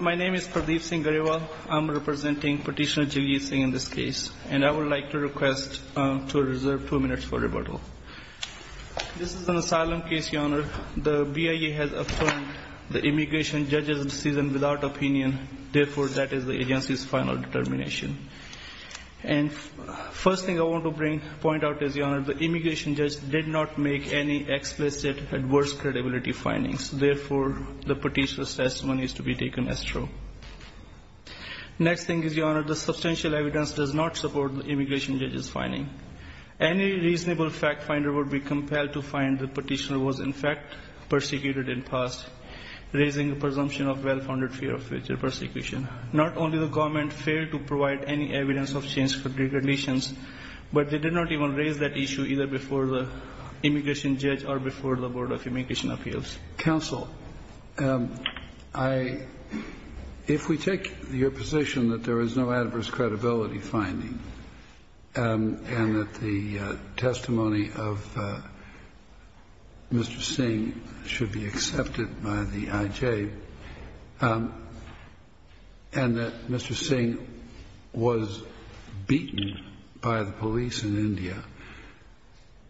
Pardeep Singh Garewal I am representing Petitioner Jiljit Singh in this case. I would like to request to reserve two minutes for rebuttal. This is an asylum case. The BIA has affirmed the immigration judge's decision without opinion. Therefore, that is the agency's final determination. The immigration judge did not make any explicit adverse credibility findings. Therefore, the petitioner's testimony is to be taken as true. The substantial evidence does not support the immigration judge's finding. Any reasonable fact finder would be compelled to find the petitioner was in fact persecuted in the past, raising the presumption of well-founded fear of future persecution. Not only the government failed to provide any evidence of change for deregulations, but they did not even raise that issue either before the immigration judge or before the Board of Immigration Appeals. Kennedy If we take your position that there is no adverse credibility finding and that the testimony of Mr. Singh should be accepted by the IJ and that Mr. Singh was beaten by the police in India,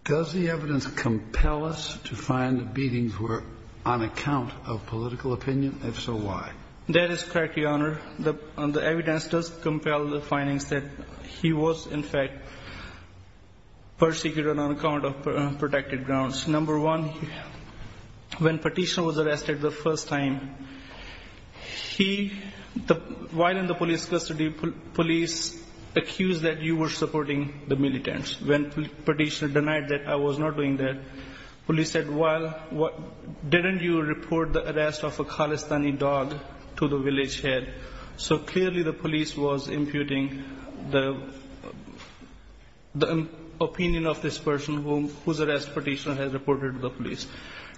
does the evidence compel us to find the beatings were on account of political opinion? If so, why? Jiljit Singh That is correct, Your Honor. The evidence does compel the findings that he was in fact persecuted on account of protected grounds. Number one, when petitioner was arrested the first time, while in the police custody, police accused that you were supporting the militants. When petitioner denied that I was not doing that, police said, well, didn't you report the arrest of a Khalistani dog to the village head? So clearly the police was imputing the opinion of this person whose arrest petitioner has reported to the police.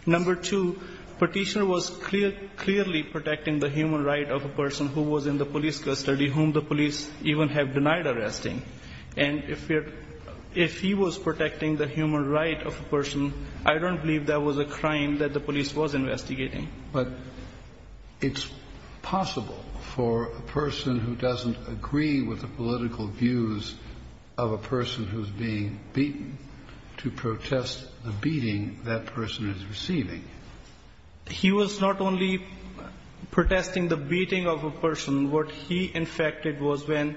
Number two, petitioner was clearly protecting the human right of a person who was in the police custody, whom the police even have denied arresting. And if he was protecting the human right of a person, I don't believe that was a crime that the police was investigating. Kennedy But it's possible for a person who doesn't agree with the political views of a person who's being beaten to protest the beating that person is receiving. Jiljit Singh He was not only protesting the beating of a person. What he in fact did was when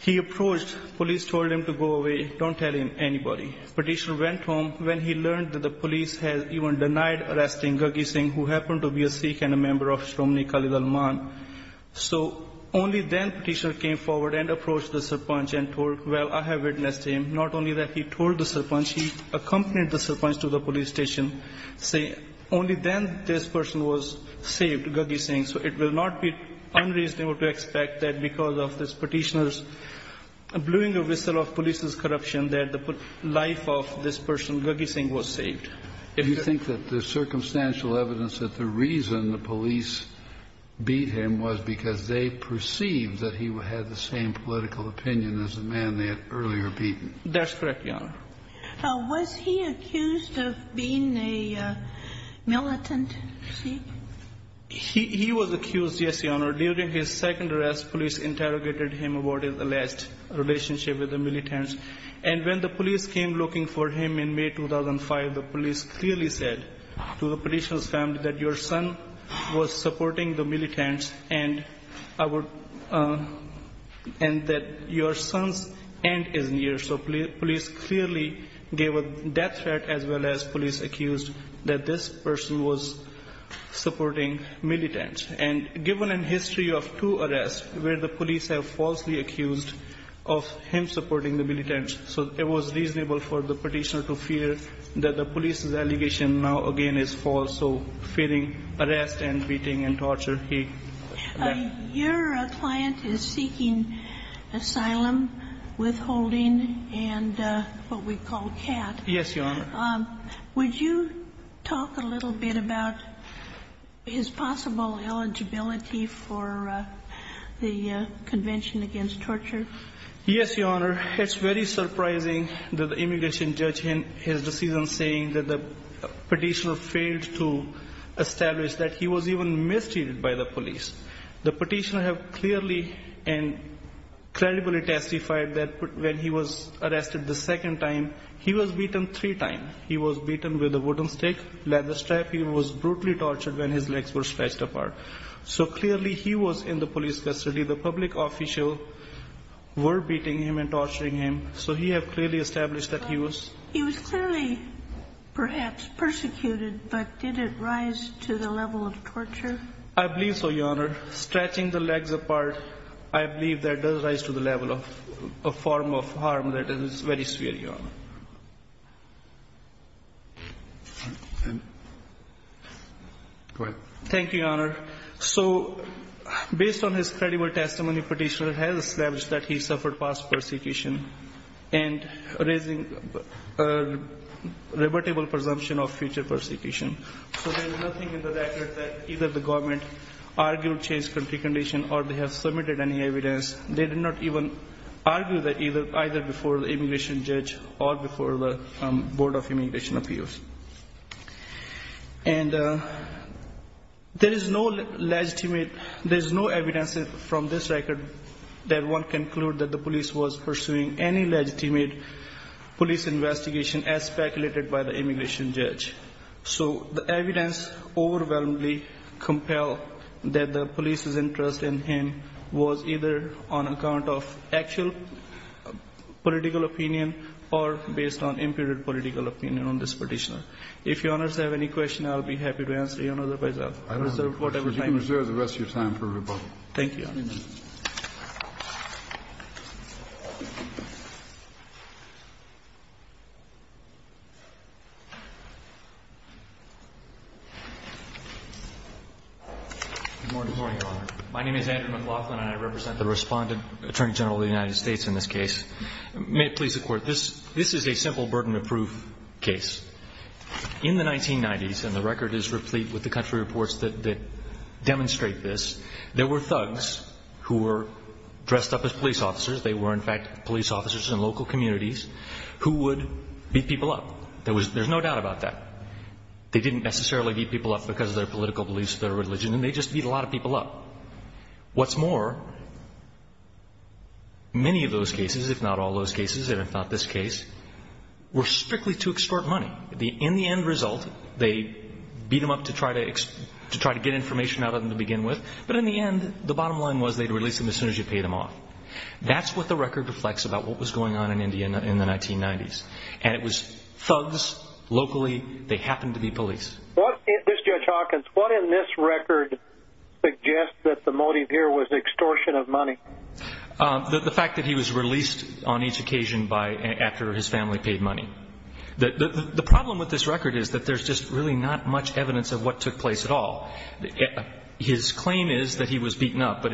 he approached, police told him to go away. Don't tell him anybody. Petitioner went home when he learned that the police had even denied arresting Jiljit Singh, who happened to be a Sikh and a member of Shromni Khalid Al-Man. So only then petitioner came forward and approached the Sarpanch and told, well, I have witnessed him. Not only that he told the Sarpanch, he accompanied the Sarpanch to the police station, saying only then this person was saved, Jiljit Singh. So it will not be unreasonable to expect that because of this petitioner's blowing a whistle of police's corruption that the life of this person, Jiljit Singh, was saved. Kennedy Do you think that there's circumstantial evidence that the reason the police beat him was because they perceived that he had the same political opinion as the man they had earlier beaten? Jiljit Singh That's correct, Your Honor. Ginsburg Was he accused of being a militant, you see? Jiljit Singh He was accused, yes, Your Honor. During his second arrest, police interrogated him about his alleged relationship with the militants. And when the police came looking for him in May 2005, the police clearly said to the petitioner's family that your son was supporting the militants and that your son's end is near. So police clearly gave a death threat as well as police accused that this person was supporting militants. And given a history of two arrests where the police have falsely accused of him supporting the militants, so it was reasonable for the petitioner to fear that the police's allegation now again is false. So fearing arrest and beating and torture, he died. Ginsburg Your client is seeking asylum, withholding, and what we call CAT. Jiljit Singh Yes, Your Honor. Ginsburg Would you talk a little bit about his possible eligibility for the Convention Against Torture? Jiljit Singh Yes, Your Honor. It's very surprising that the immigration judge in his decision saying that the petitioner failed to establish that he was even mistreated by the police. The petitioner have clearly and credibly testified that when he was arrested the second time, he was beaten three times. He was beaten with a wooden stick, leather strap. He was brutally tortured when his legs were stretched apart. So clearly he was in the police custody. The public official were beating him and torturing him. So he have clearly established that he was. Ginsburg He was clearly perhaps persecuted, but did it rise to the level of torture? Jiljit Singh I believe so, Your Honor. Stretching the legs apart, I believe that does rise to the level of a form of harm that is very severe, Your Honor. Go ahead. Thank you, Your Honor. So based on his credible testimony, petitioner has established that he suffered past persecution and raising a rebuttable presumption of future persecution. So there is nothing in the record that either the government argued changed country condition or they have submitted any evidence. They did not even argue that either before the immigration judge or before the Board of Immigration Appeals. And there is no legitimate, there is no evidence from this record that one can conclude that the police was pursuing any legitimate police investigation as speculated by the immigration judge. So the evidence overwhelmingly compel that the police's interest in him was either on account of actual political opinion or based on imputed political opinion on this petitioner. If Your Honors have any question, I'll be happy to answer you. Otherwise, I'll reserve whatever time you have. Kennedy But you can reserve the rest of your time for rebuttal. Jiljit Singh Thank you, Your Honor. Andrew McLaughlin Good morning, Your Honor. My name is Andrew McLaughlin, and I represent the respondent, Attorney General of the United States in this case. May it please the Court, this is a simple burden of proof case. In the 1990s, and the record is replete with the country reports that demonstrate this, there were thugs who were dressed up as police officers. They were, in fact, police officers in local communities who would beat people up. There's no doubt about that. They didn't necessarily beat people up because of their political beliefs or their religion, and they just beat a lot of people up. Many of those cases, if not all those cases, and if not this case, were strictly to extort money. In the end result, they beat them up to try to get information out of them to begin with, but in the end, the bottom line was they'd release them as soon as you paid them off. That's what the record reflects about what was going on in India in the 1990s, and it was thugs locally. They happened to be police. This is Judge Hawkins. What in this record suggests that the motive here was extortion of money? The fact that he was released on each occasion after his family paid money. The problem with this record is that there's just really not much evidence of what took place at all. His claim is that he was beaten up, but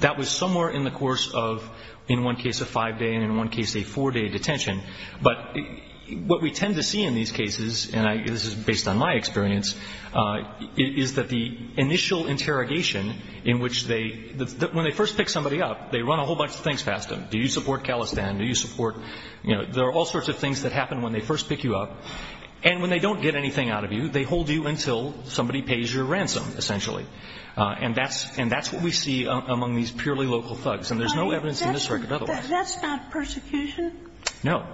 that was somewhere in the course of, in one case, a five-day, and in one case, a four-day detention, but what we tend to see in these cases, and this is based on my experience, is that the initial interrogation in which they, when they first pick somebody up, they run a whole bunch of things past them. Do you support Khalistan? Do you support, you know, there are all sorts of things that happen when they first pick you up, and when they don't get anything out of you, they hold you until somebody pays your ransom, essentially, and that's, and that's what we see among these purely local thugs, and there's no evidence in this record otherwise. That's not persecution? No.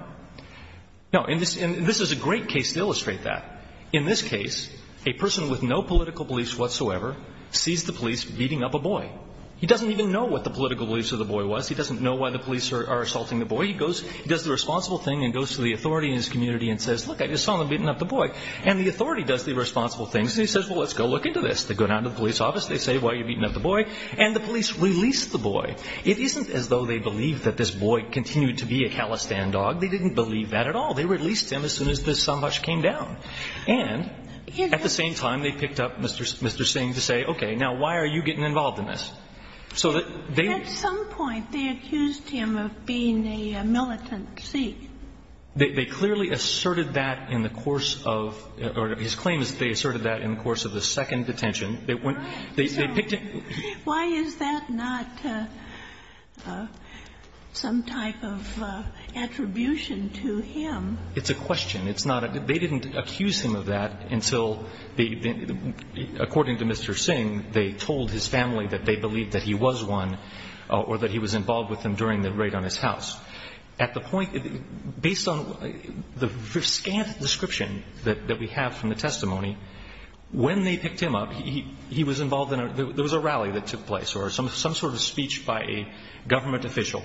No. And this is a great case to illustrate that. In this case, a person with no political beliefs whatsoever sees the police beating up a boy. He doesn't even know what the political beliefs of the boy was. He doesn't know why the police are assaulting the boy. He goes, he does the responsible thing and goes to the authority in his community and says, look, I just saw them beating up the boy, and the authority does the responsible things, and he says, well, let's go look into this. They go down to the police office. They say, why are you beating up the boy? And the police release the boy. It isn't as though they believe that this boy continued to be a calistan dog. They didn't believe that at all. They released him as soon as this sambhash came down. And at the same time, they picked up Mr. Singh to say, okay, now, why are you getting involved in this? So that they at some point, they accused him of being a militant thief. They clearly asserted that in the course of, or his claim is they asserted that in the course of the second detention. They went, they picked him. Why is that not some type of attribution to him? It's a question. It's not a, they didn't accuse him of that until they, according to Mr. Singh, they told his family that they believed that he was one or that he was involved with them during the raid on his house. At the point, based on the scant description that we have from the testimony, when they picked him up, he was involved in a, there was a rally that took place or some sort of speech by a government official.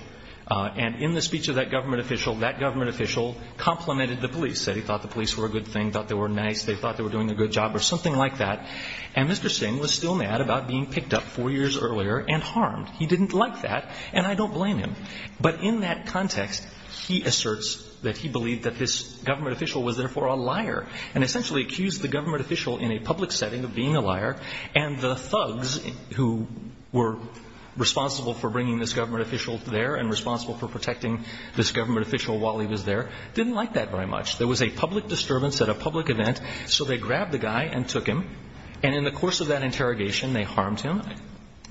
And in the speech of that government official, that government official complimented the police, said he thought the police were a good thing, thought they were nice, they thought they were doing a good job or something like that. And Mr. Singh was still mad about being picked up four years earlier and harmed. He didn't like that, and I don't blame him. But in that context, he asserts that he believed that this government official was therefore a liar and essentially accused the government official in a public setting of being a liar. And the thugs who were responsible for bringing this government official there and responsible for protecting this government official while he was there didn't like that very much. There was a public disturbance at a public event, so they grabbed the guy and took him. And in the course of that interrogation, they harmed him.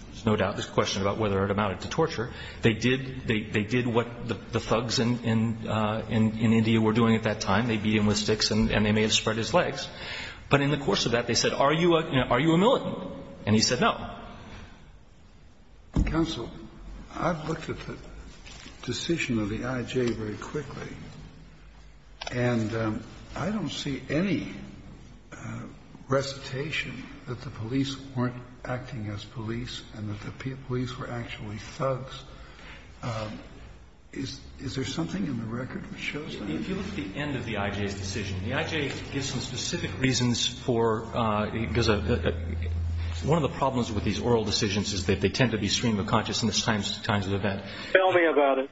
There's no doubt this question about whether it amounted to torture. They did, they did what the thugs in India were doing at that time. They beat him with sticks and they may have spread his legs. But in the course of that, they said, are you a militant? And he said no. Kennedy. Counsel, I've looked at the decision of the I.J. very quickly, and I don't see any recitation that the police weren't acting as police and that the police were actually thugs. Is there something in the record that shows that? If you look at the end of the I.J.'s decision, the I.J. gives some specific reasons for, because one of the problems with these oral decisions is that they tend to be stream of consciousness at times of event. Tell me about it.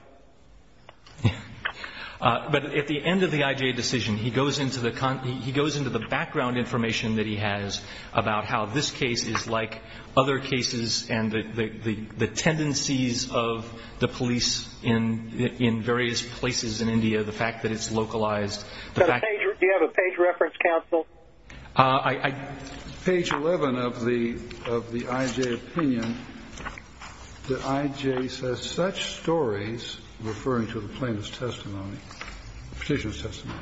But at the end of the I.J. decision, he goes into the background information that he has about how this case is like other cases and the tendencies of the police in various places in India, the fact that it's localized. Do you have a page reference, counsel? Page 11 of the I.J. opinion, the I.J. says, such stories, referring to the plaintiff's testimony, petitioner's testimony,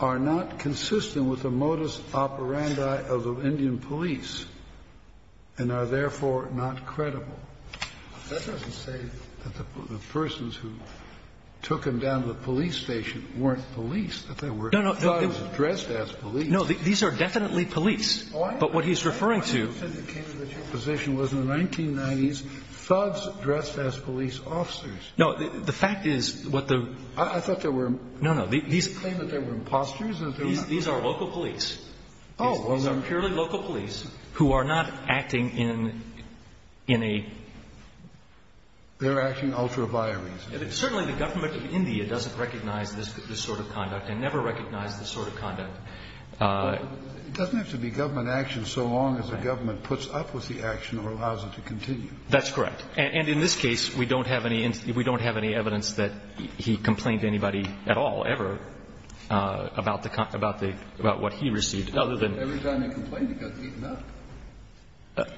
are not consistent with the notice operandi of the Indian police and are therefore not credible. That doesn't say that the persons who took him down to the police station weren't police, that they were thugs dressed as police. No, these are definitely police. But what he's referring to — Why do you think it came to that your position was in the 1990s, thugs dressed as police officers? No, the fact is what the — I thought there were — You claim that they were imposters and that they were not — These are local police. Oh. These are purely local police who are not acting in a — They're acting ultra vires. Certainly the government of India doesn't recognize this sort of conduct and never recognized this sort of conduct. It doesn't have to be government action so long as the government puts up with the action or allows it to continue. That's correct. And in this case, we don't have any evidence that he complained to anybody at all, ever, about what he received, other than — Every time he complained, he got beaten up.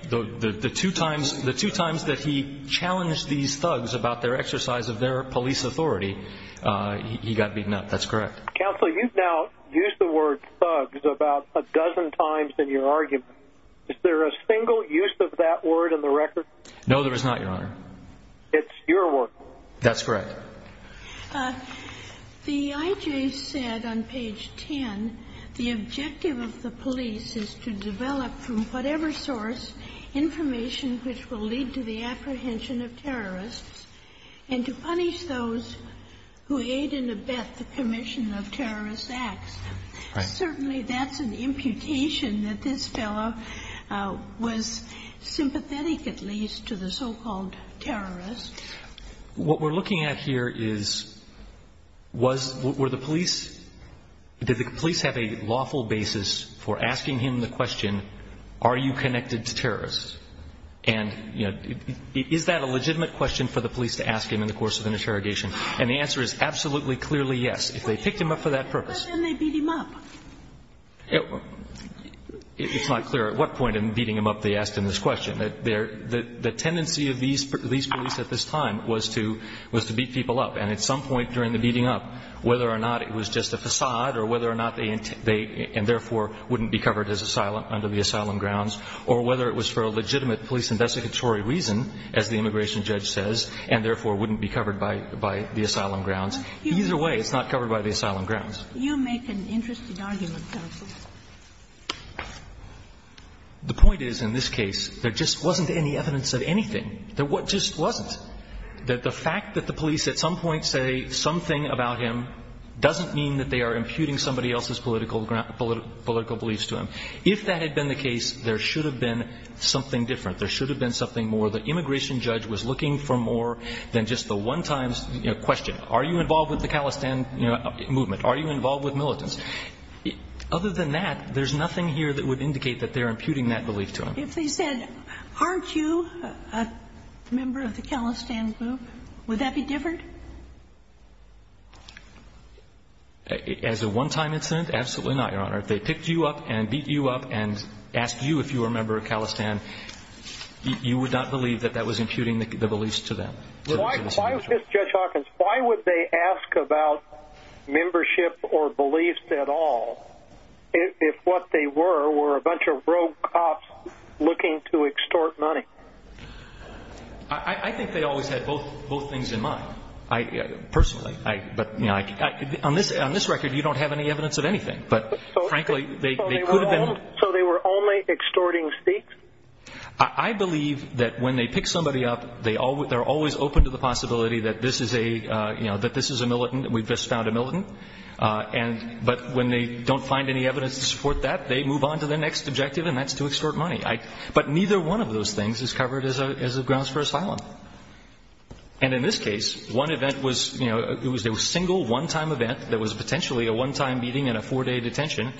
The two times that he challenged these thugs about their exercise of their police authority, he got beaten up. That's correct. Counsel, you've now used the word thugs about a dozen times in your argument. Is there a single use of that word in the record? No, there is not, Your Honor. It's your word. That's correct. The I.J. said on page 10, the objective of the police is to develop from whatever source information which will lead to the apprehension of terrorists and to punish those who aid and abet the commission of terrorist acts. Certainly that's an imputation that this fellow was sympathetic at least to the so-called terrorists. What we're looking at here is, was — were the police — did the police have a lawful basis for asking him the question, are you connected to terrorists? And, you know, is that a legitimate question for the police to ask him in the course of an interrogation? And the answer is absolutely, clearly yes, if they picked him up for that purpose. But then they beat him up. It's not clear at what point in beating him up they asked him this question. The tendency of these police at this time was to — was to beat people up. And at some point during the beating up, whether or not it was just a facade or whether or not they — and therefore wouldn't be covered under the asylum grounds, or whether it was for a legitimate police investigatory reason, as the immigration judge says, and therefore wouldn't be covered by the asylum grounds. Either way, it's not covered by the asylum grounds. You make an interesting argument, counsel. The point is, in this case, there just wasn't any evidence of anything. There just wasn't. That the fact that the police at some point say something about him doesn't mean that they are imputing somebody else's political beliefs to him. If that had been the case, there should have been something different. There should have been something more. The immigration judge was looking for more than just the one-time question. Are you involved with the Khalistan movement? Are you involved with militants? Other than that, there's nothing here that would indicate that they're imputing that belief to him. If they said, aren't you a member of the Khalistan group, would that be different? As a one-time incident, absolutely not, Your Honor. If they picked you up and beat you up and asked you if you were a member of Khalistan, you would not believe that that was imputing the beliefs to them. Why would Judge Hawkins, why would they ask about membership or beliefs at all if what they were were a bunch of rogue cops looking to extort money? I think they always had both things in mind. Personally. On this record, you don't have any evidence of anything. But frankly, they could have been... So they were only extorting speaks? I believe that when they pick somebody up, they're always open to the possibility that this is a, you know, that this is a militant. We've just found a militant. But when they don't find any evidence to support that, they move on to the next objective, and that's to extort money. But neither one of those things is covered as a grounds for asylum. And in this case, one event was, you know, it was a single one-time event that was potentially a one-time meeting in a four-day detention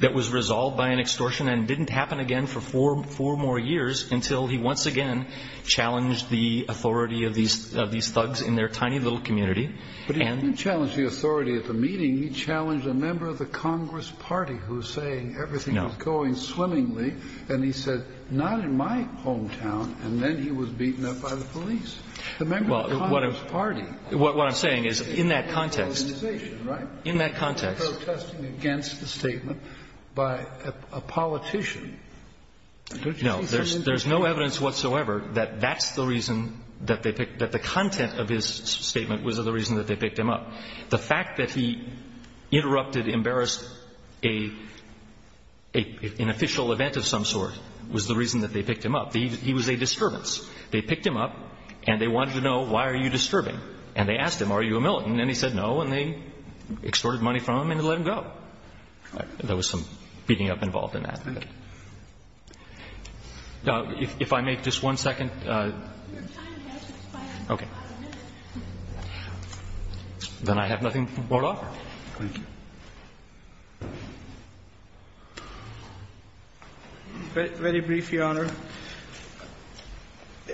that was resolved by an extortion and didn't happen again for four more years until he once again challenged the authority of these thugs in their tiny little community. But he didn't challenge the authority at the meeting. He challenged a member of the Congress Party who's saying everything is going swimmingly. And he said, not in my hometown. And then he was beaten up by the police. The member of the Congress Party... What I'm saying is in that context... ...organization, right? In that context... No. There's no evidence whatsoever that that's the reason that they picked – that the content of his statement was the reason that they picked him up. The fact that he interrupted, embarrassed an official event of some sort was the reason that they picked him up. He was a disturbance. They picked him up, and they wanted to know, why are you disturbing? And they asked him, are you a militant? And he said no, and they extorted money from him and let him go. There was some beating up involved in that. Okay. Now, if I may, just one second. Okay. Then I have nothing more to offer. Thank you. Very brief, Your Honor.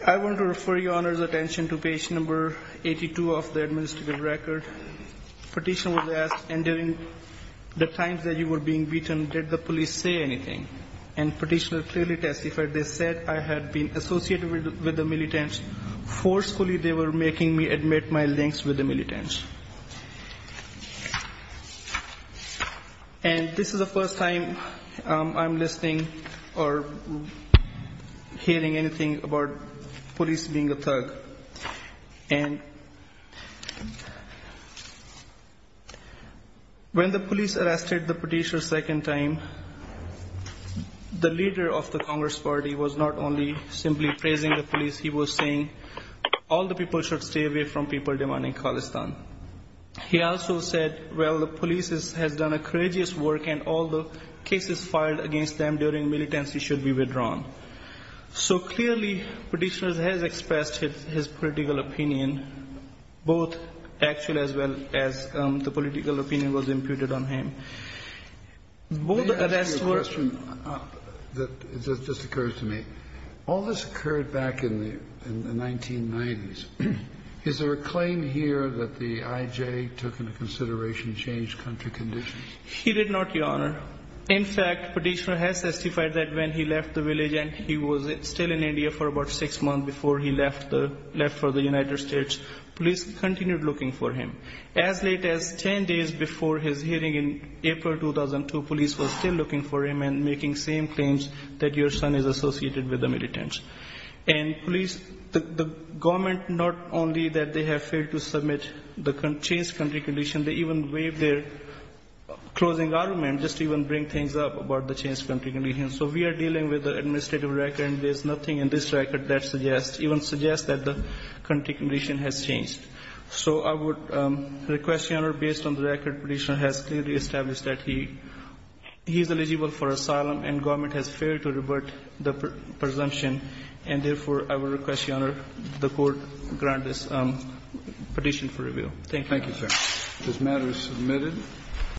I want to refer Your Honor's attention to page number 82 of the administrative record. Petitioner was asked, and during the times that you were being beaten, did the police say anything? And petitioner clearly testified, they said I had been associated with the militants. Forcefully, they were making me admit my links with the militants. And this is the first time I'm listening or hearing anything about police being a thug. And when the police arrested the petitioner second time, the leader of the Congress party was not only simply praising the police, he was saying all the people should stay away from people demanding Khalistan. He also said, well, the police has done a courageous work, and all the cases filed against them during militancy should be withdrawn. So clearly, petitioner has expressed his political opinion, both actually as well as the political opinion was imputed on him. May I ask you a question that just occurs to me? All this occurred back in the 1990s. Is there a claim here that the IJ took into consideration changed country conditions? He did not, Your Honor. In fact, petitioner has testified that when he left the village and he was still in India for about six months before he left for the United States, police continued looking for him. As late as 10 days before his hearing in April 2002, police were still looking for him and making same claims that your son is associated with the militants. And police, the government, not only that they have failed to submit the changed country condition, they even waived their closing argument just to even bring things up about the changed country condition. So we are dealing with the administrative record, and there's nothing in this record that even suggests that the country condition has changed. So I would request, Your Honor, based on the record, petitioner has clearly established that he's eligible for asylum, and government has failed to revert the presumption. And therefore, I would request, Your Honor, the court grant this petition for review. Thank you. Thank you, sir. This matter is submitted.